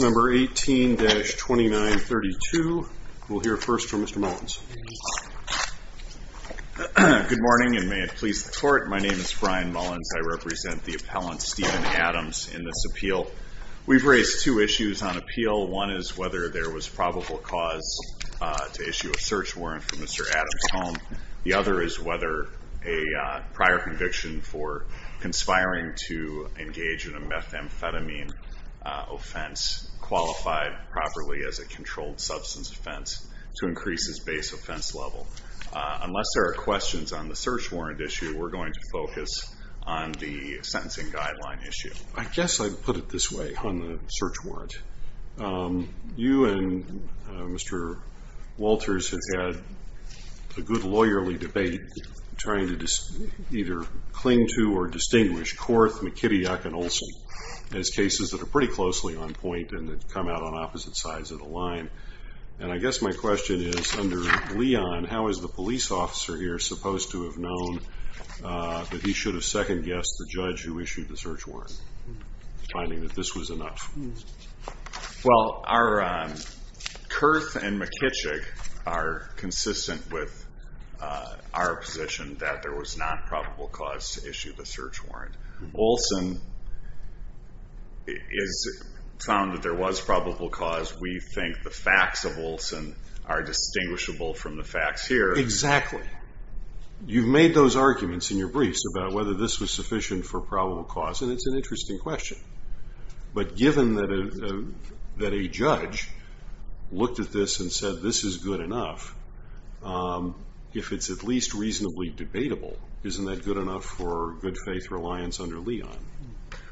Number 18-2932. We'll hear first from Mr. Mullins. Good morning, and may it please the Court. My name is Brian Mullins. I represent the appellant, Steven Adams, in this appeal. We've raised two issues on appeal. One is whether there was probable cause to issue a search warrant for Mr. Adams. The other is whether a prior conviction for conspiring to engage in a methamphetamine offense qualified properly as a controlled substance offense to increase his base offense level. Unless there are questions on the search warrant issue, we're going to focus on the sentencing guideline issue. I guess I'd put it this way on the search warrant. You and Mr. Walters have had several cases, a good lawyerly debate, trying to either cling to or distinguish Korth, McKittuck, and Olson as cases that are pretty closely on point and that come out on opposite sides of the line. And I guess my question is, under Leon, how is the police officer here supposed to have known that he should have second-guessed the judge who issued the search warrant, finding that this was enough? Well, Korth and McKittuck are consistent with our position that there was not probable cause to issue the search warrant. Olson has found that there was probable cause. We think the facts of Olson are distinguishable from the facts here. Exactly. You've made those arguments in your briefs about whether this was sufficient for that a judge looked at this and said, this is good enough. If it's at least reasonably debatable, isn't that good enough for good-faith reliance under Leon?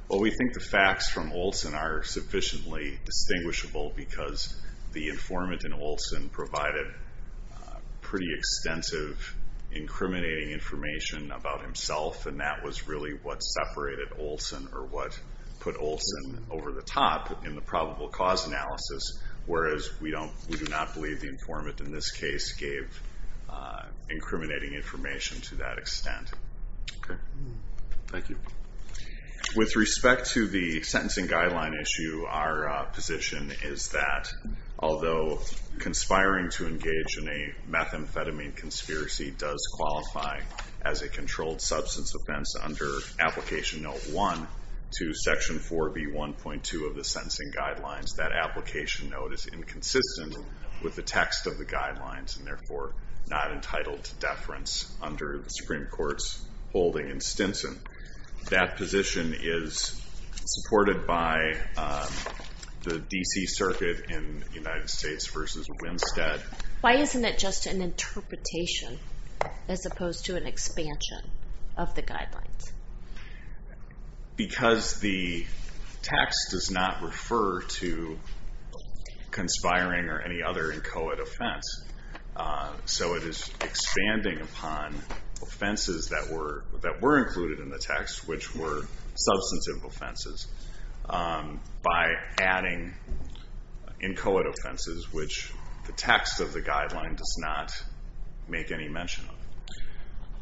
Well, we think the facts from Olson are sufficiently distinguishable because the informant in Olson provided pretty extensive, incriminating information about himself, and that was really what separated Olson over the top in the probable cause analysis, whereas we do not believe the informant in this case gave incriminating information to that extent. Okay. Thank you. With respect to the sentencing guideline issue, our position is that although conspiring to engage in a methamphetamine conspiracy does qualify as a controlled substance offense under Application Note 1 to Section 4B1.2 of the sentencing guidelines, that application note is inconsistent with the text of the guidelines and therefore not entitled to deference under the Supreme Court's holding in Stinson. That position is supported by the D.C. Circuit in United States v. Winstead. Why isn't it just an interpretation as opposed to an expansion of the guidelines? Because the text does not refer to conspiring or any other inchoate offense, so it is expanding upon offenses that were included in the text, which were substantive offenses, by adding inchoate offenses, which the text of the guideline does not make any mention of.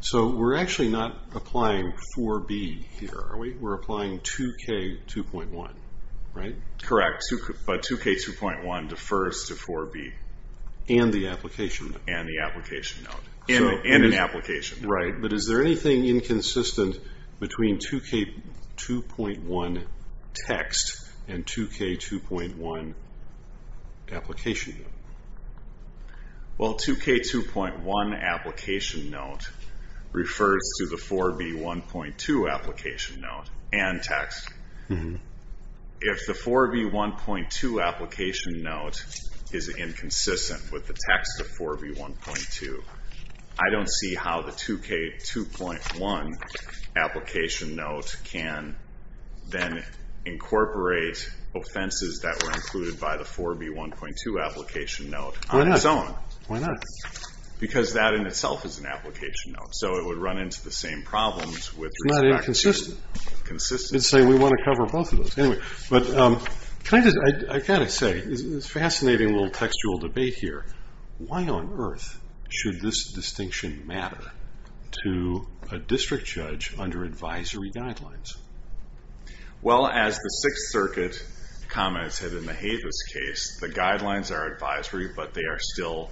So we're actually not applying 4B here, are we? We're applying 2K2.1, right? Correct, but 2K2.1 defers to 4B. And the application note. And the application note. And an application note. Right, but is there anything inconsistent between 2K2.1 text and 2K2.1 application note? Well, 2K2.1 application note refers to the 4B1.2 application note and text. If the 4B1.2 application note is inconsistent with the text of 4B1.2, I don't see how the 2K2.1 application note can then incorporate offenses that were included by the 4B1.2 application note on its own. Why not? Because that in itself is an application note, so it would run into the same problems with respect to... It's not inconsistent. Consistent. I was going to say, we want to cover both of those. I've got to say, it's a fascinating little textual debate here. Why on earth should this distinction matter to a district judge under advisory guidelines? Well, as the Sixth Circuit commented in the Havis case, the guidelines are advisory, but they are still,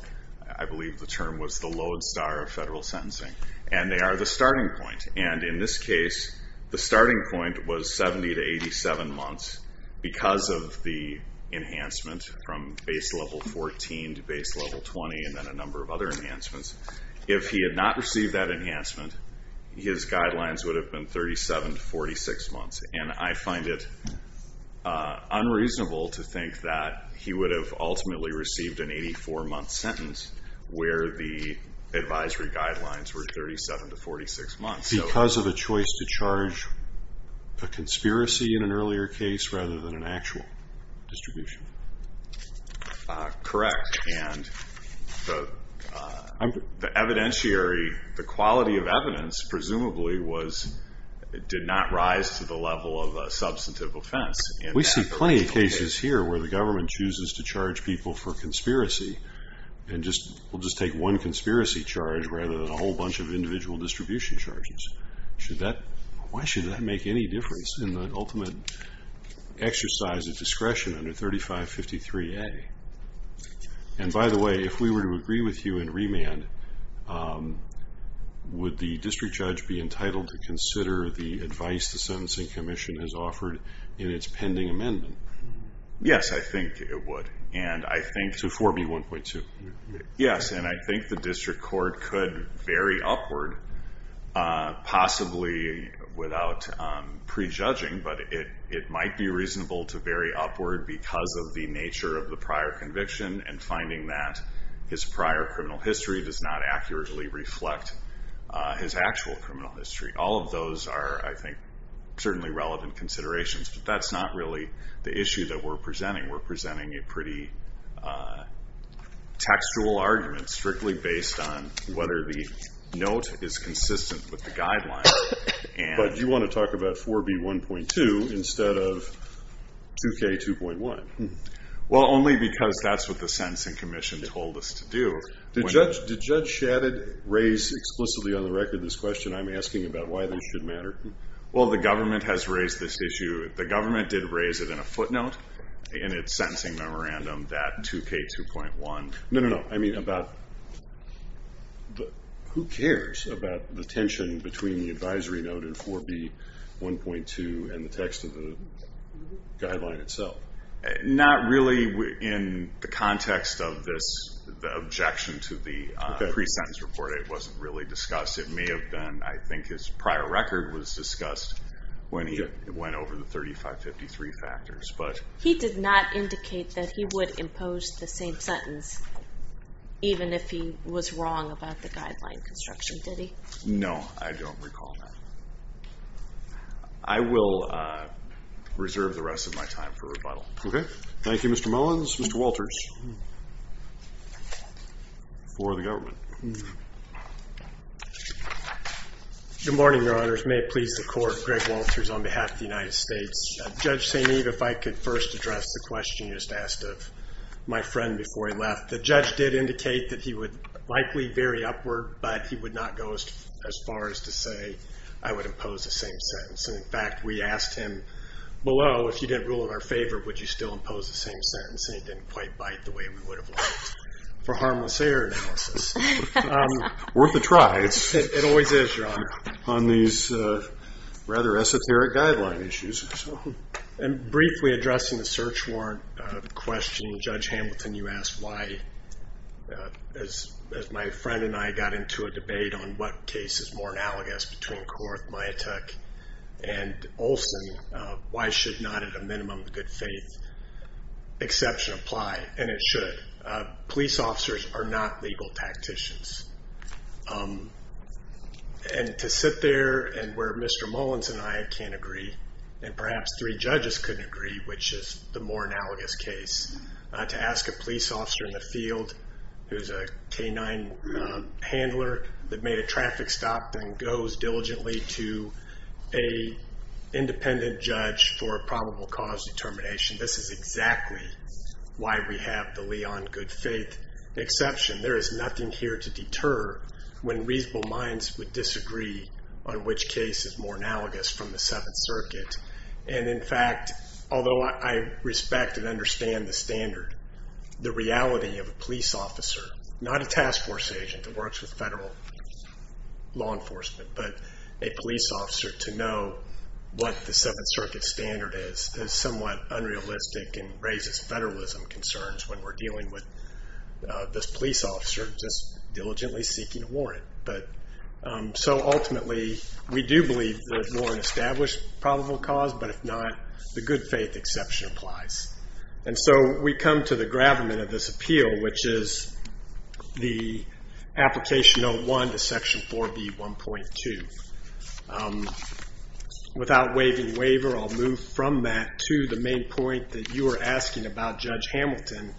I believe the term was the lodestar of federal sentencing, and they are the starting point. In this case, the starting point was 70 to 87 months because of the enhancement from base level 14 to base level 20 and then a number of other enhancements. If he had not received that enhancement, his guidelines would have been 37 to 46 months, and I find it unreasonable to think that he would have ultimately received an 84-month sentence where the advisory guidelines were 37 to 46 months. Because of a choice to charge a conspiracy in an earlier case rather than an actual distribution? Correct, and the quality of evidence presumably did not rise to the level of a substantive offense. We see plenty of cases here where the government chooses to charge people for conspiracy and will just take one conspiracy charge rather than a whole bunch of individual distribution charges. Why should that make any difference in the ultimate exercise of discretion under 3553A? By the way, if we were to agree with you in remand, would the district judge be entitled to consider the advice the Sentencing Commission has offered in its pending amendment? Yes, I think it would. So 4B1.2? Yes, and I think the district court could vary upward, possibly without prejudging, but it might be reasonable to vary upward because of the nature of the prior conviction and finding that his prior criminal history does not accurately reflect his actual criminal history. All of those are, I think, certainly relevant considerations, but that's not really the issue that we're presenting. We're presenting a pretty textual argument strictly based on whether the note is consistent with the guidelines. But you want to talk about 4B1.2 instead of 2K2.1. Well, only because that's what the Sentencing Commission told us to do. Did Judge Shadid raise explicitly on the record this question I'm asking about why this should matter? Well, the government has raised this issue. The government did raise it in a footnote in its sentencing memorandum, that 2K2.1. No, no, no. I mean about who cares about the tension between the advisory note in 4B1.2 and the text of the guideline itself? Not really in the context of the objection to the pre-sentence report. It wasn't really discussed. It may have been, I think, his prior record was discussed when he went over the 3553 factors. He did not indicate that he would impose the same sentence even if he was wrong about the guideline construction, did he? No, I don't recall that. I will reserve the rest of my time for rebuttal. Okay. Thank you, Mr. Mullins. Mr. Walters for the government. Good morning, Your Honors. May it please the Court. Greg Walters on behalf of the United States. Judge St. Eve, if I could first address the question you just asked of my friend before he left. The judge did indicate that he would likely vary upward, but he would not go as far as to say I would impose the same sentence. In fact, we asked him below if he didn't rule in our favor, would you still impose the same sentence, and he didn't quite bite the way we would have liked for harmless error analysis. Worth a try. It always is, Your Honor, on these rather esoteric guideline issues. Briefly addressing the search warrant question, Judge Hamilton, you asked why, as my friend and I got into a debate on what case is more analogous between Korth, Miatek, and Olson, why should not at a minimum of good faith exception apply? And it should. Police officers are not legal tacticians. And to sit there and where Mr. Mullins and I can't agree, and perhaps three judges couldn't agree, which is the more analogous case, to ask a police officer in the field who is a canine handler that made a traffic stop and goes diligently to an independent judge for a probable cause determination, this is exactly why we have the Leon good faith exception. There is nothing here to deter when reasonable minds would disagree on which case is more analogous from the Seventh Circuit. And, in fact, although I respect and understand the standard, the reality of a police officer, not a task force agent that works with federal law enforcement, but a police officer to know what the Seventh Circuit standard is is somewhat unrealistic and raises federalism concerns when we're dealing with this police officer just diligently seeking a warrant. So, ultimately, we do believe there is more than an established probable cause, but if not, the good faith exception applies. And so we come to the gravamen of this appeal, which is the application 01 to section 4B1.2. Without waiving waiver, I'll move from that to the main point that you were asking about, Judge Hamilton,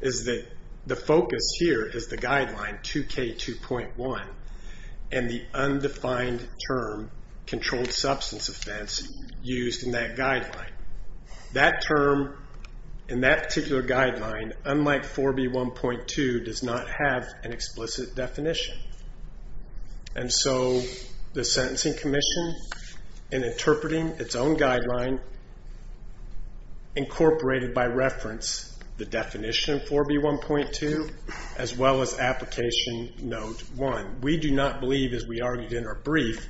is that the focus here is the guideline 2K2.1 and the undefined term controlled substance offense used in that guideline. That term in that particular guideline, unlike 4B1.2, does not have an explicit definition. And so the Sentencing Commission, in interpreting its own guideline, incorporated by reference the definition of 4B1.2 as well as application 01. We do not believe, as we argued in our brief,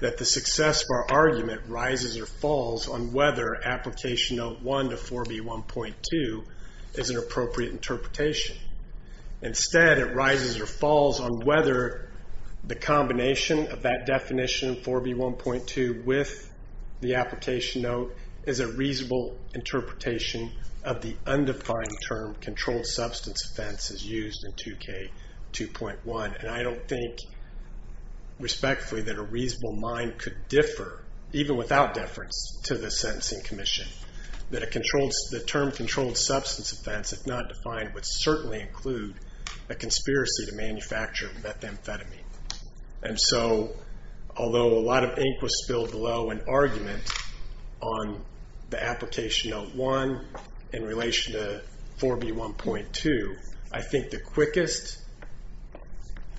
that the success of our argument rises or falls on whether application 01 to 4B1.2 is an appropriate interpretation. Instead, it rises or falls on whether the combination of that definition, 4B1.2, with the application note is a reasonable interpretation of the undefined term controlled substance offense as used in 2K2.1. And I don't think, respectfully, that a reasonable mind could differ, even without deference, to the Sentencing Commission. That the term controlled substance offense, if not defined, would certainly include a conspiracy to manufacture methamphetamine. And so, although a lot of ink was spilled below an argument on the application 01 in relation to 4B1.2, I think the quickest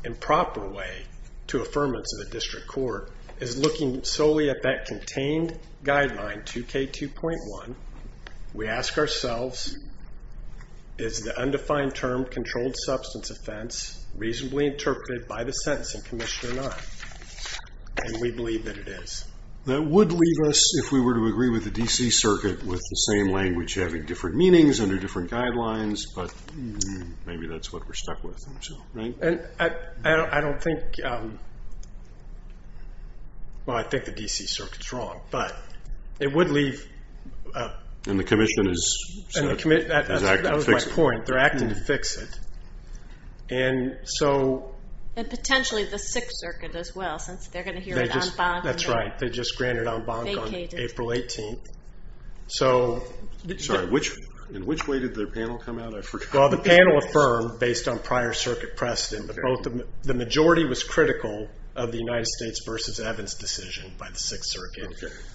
and proper way to affirmance of the District Court is looking solely at that contained guideline, 2K2.1. We ask ourselves, is the undefined term controlled substance offense reasonably interpreted by the Sentencing Commission or not? And we believe that it is. That would leave us, if we were to agree with the D.C. Circuit, with the same language having different meanings under different guidelines, but maybe that's what we're stuck with, right? I don't think... Well, I think the D.C. Circuit's wrong, but it would leave... And the Commission is acting to fix it. That was my point. They're acting to fix it. And so... And potentially the Sixth Circuit as well, since they're going to hear it en banc. That's right. They just granted en banc on April 18th. So... Sorry, in which way did their panel come out? I forgot. Well, the panel affirmed, based on prior circuit precedent, that the majority was critical of the United States v. Evans decision by the Sixth Circuit.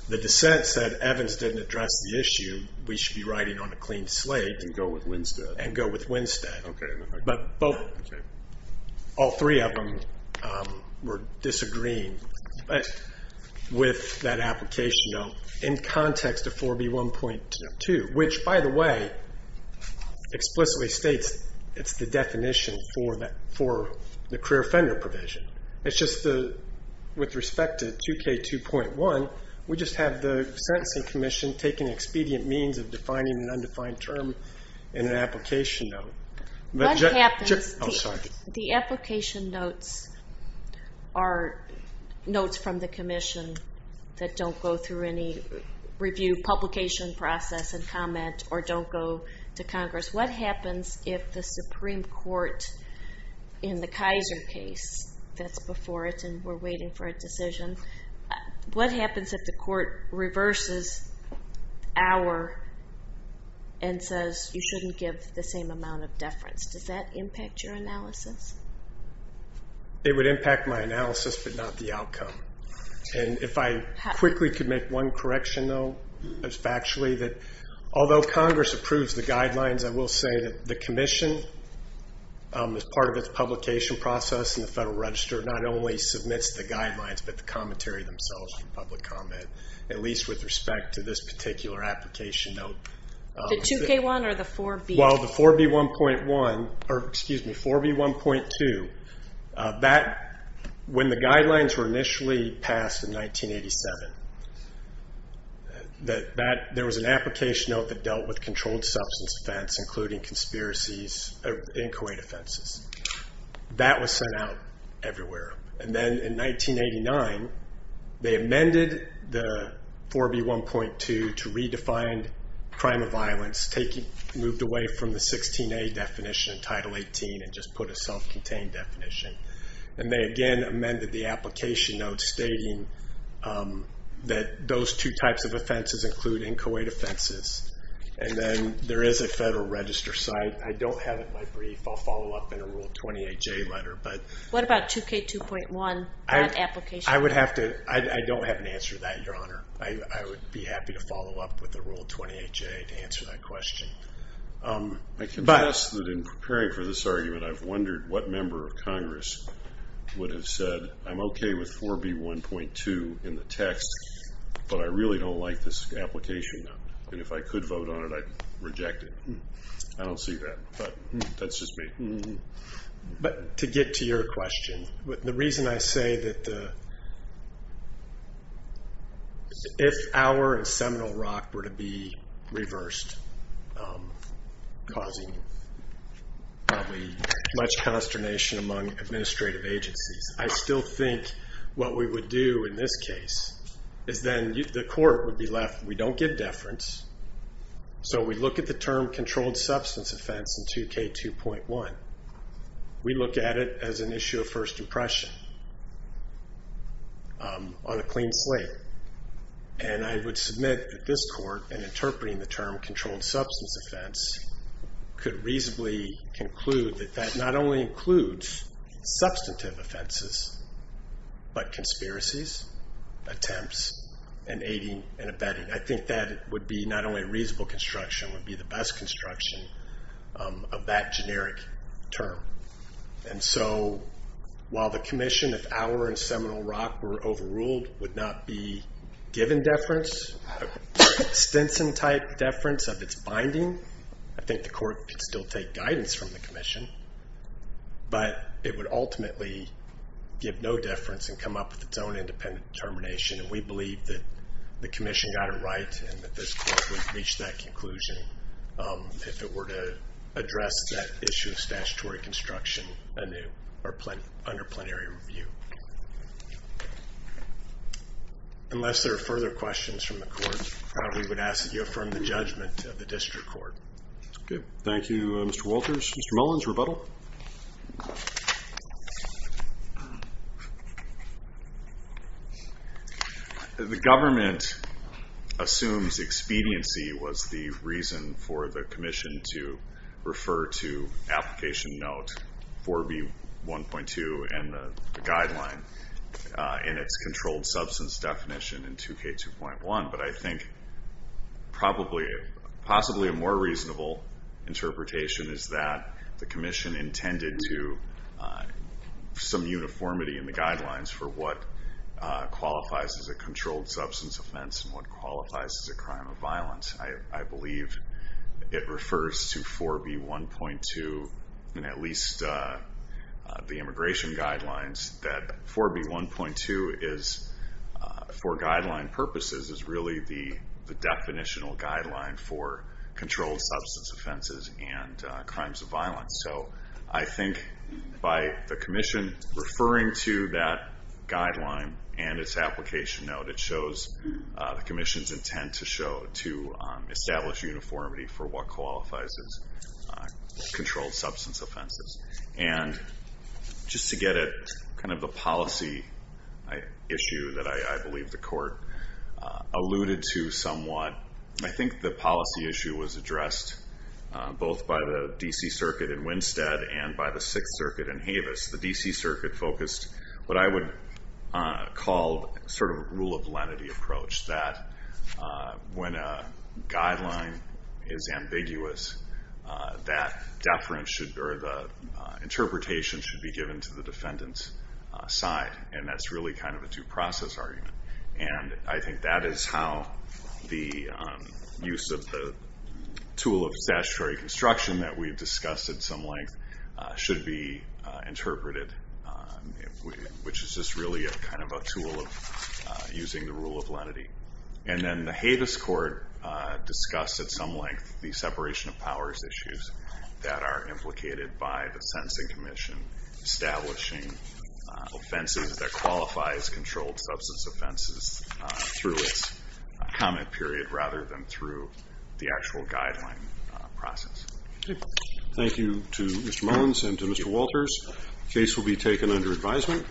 The dissent said Evans didn't address the issue. We should be writing on a clean slate. And go with Winstead. And go with Winstead. Okay. But all three of them were disagreeing with that application note in context of 4B1.2, which, by the way, explicitly states it's the definition for the career offender provision. It's just with respect to 2K2.1, we just have the sentencing commission take an expedient means of defining an undefined term in an application note. What happens... Oh, sorry. The application notes are notes from the commission that don't go through any review publication process and comment, or don't go to Congress. What happens if the Supreme Court, in the Kaiser case that's before it, and we're waiting for a decision, what happens if the court reverses our and says you shouldn't give the same amount of deference? Does that impact your analysis? It would impact my analysis, but not the outcome. And if I quickly could make one correction, though, it's factually that although Congress approves the guidelines, I will say that the commission, as part of its publication process in the Federal Register, not only submits the guidelines, but the commentary themselves in public comment, at least with respect to this particular application note. The 2K1 or the 4B? Well, the 4B1.1, or excuse me, 4B1.2, when the guidelines were initially passed in 1987, there was an application note that dealt with controlled substance offense, including conspiracies in Kuwait offenses. That was sent out everywhere. And then in 1989, they amended the 4B1.2 to redefine crime of violence, moved away from the 16A definition, Title 18, and just put a self-contained definition. And they again amended the application note stating that those two types of offenses include in Kuwait offenses. And then there is a Federal Register site. I don't have it in my brief. I'll follow up in a Rule 28J letter. What about 2K2.1, that application? I don't have an answer to that, Your Honor. I would be happy to follow up with a Rule 28J to answer that question. I can guess that in preparing for this argument, I've wondered what member of Congress would have said, I'm okay with 4B1.2 in the text, but I really don't like this application note. And if I could vote on it, I'd reject it. I don't see that, but that's just me. But to get to your question, the reason I say that if our and Seminole Rock were to be reversed, causing probably much consternation among administrative agencies, I still think what we would do in this case is then the court would be left. We don't give deference. So we look at the term controlled substance offense in 2K2.1. We look at it as an issue of first impression on a clean slate. And I would submit that this court, in interpreting the term controlled substance offense, could reasonably conclude that that not only includes substantive offenses, but conspiracies, attempts, and aiding and abetting. I think that would be not only a reasonable construction, it would be the best construction of that generic term. And so while the commission, if our and Seminole Rock were overruled, would not be given deference, Stinson-type deference of its binding, I think the court could still take guidance from the commission. But it would ultimately give no deference and come up with its own independent determination. And we believe that the commission got it right and that this court would reach that conclusion if it were to address that issue of statutory construction under plenary review. Unless there are further questions from the court, we would ask that you affirm the judgment of the district court. Okay. Thank you, Mr. Wolters. Mr. Mullen's rebuttal. The government assumes expediency was the reason for the commission to refer to application note 4B1.2 and the guideline in its controlled substance definition in 2K2.1. But I think possibly a more reasonable interpretation is that the commission intended to some uniformity in the guidelines for what qualifies as a controlled substance offense and what qualifies as a crime of violence. I believe it refers to 4B1.2 and at least the immigration guidelines that 4B1.2 for guideline purposes is really the definitional guideline for controlled substance offenses and crimes of violence. So I think by the commission referring to that guideline and its application note, it shows the commission's intent to establish uniformity for what qualifies as controlled substance offenses. Just to get at the policy issue that I believe the court alluded to somewhat, I think the policy issue was addressed both by the D.C. Circuit in Winstead and by the Sixth Circuit in Havis. The D.C. Circuit focused what I would call a rule of lenity approach that when a guideline is ambiguous, that interpretation should be given to the defendant's side, and that's really kind of a due process argument. I think that is how the use of the tool of statutory construction that we've discussed at some length should be interpreted, which is just really kind of a tool of using the rule of lenity. And then the Havis court discussed at some length the separation of powers issues that are implicated by the sentencing commission establishing offenses that qualify as controlled substance offenses through its comment period rather than through the actual guideline process. Thank you to Mr. Mones and to Mr. Walters. The case will be taken under advisement.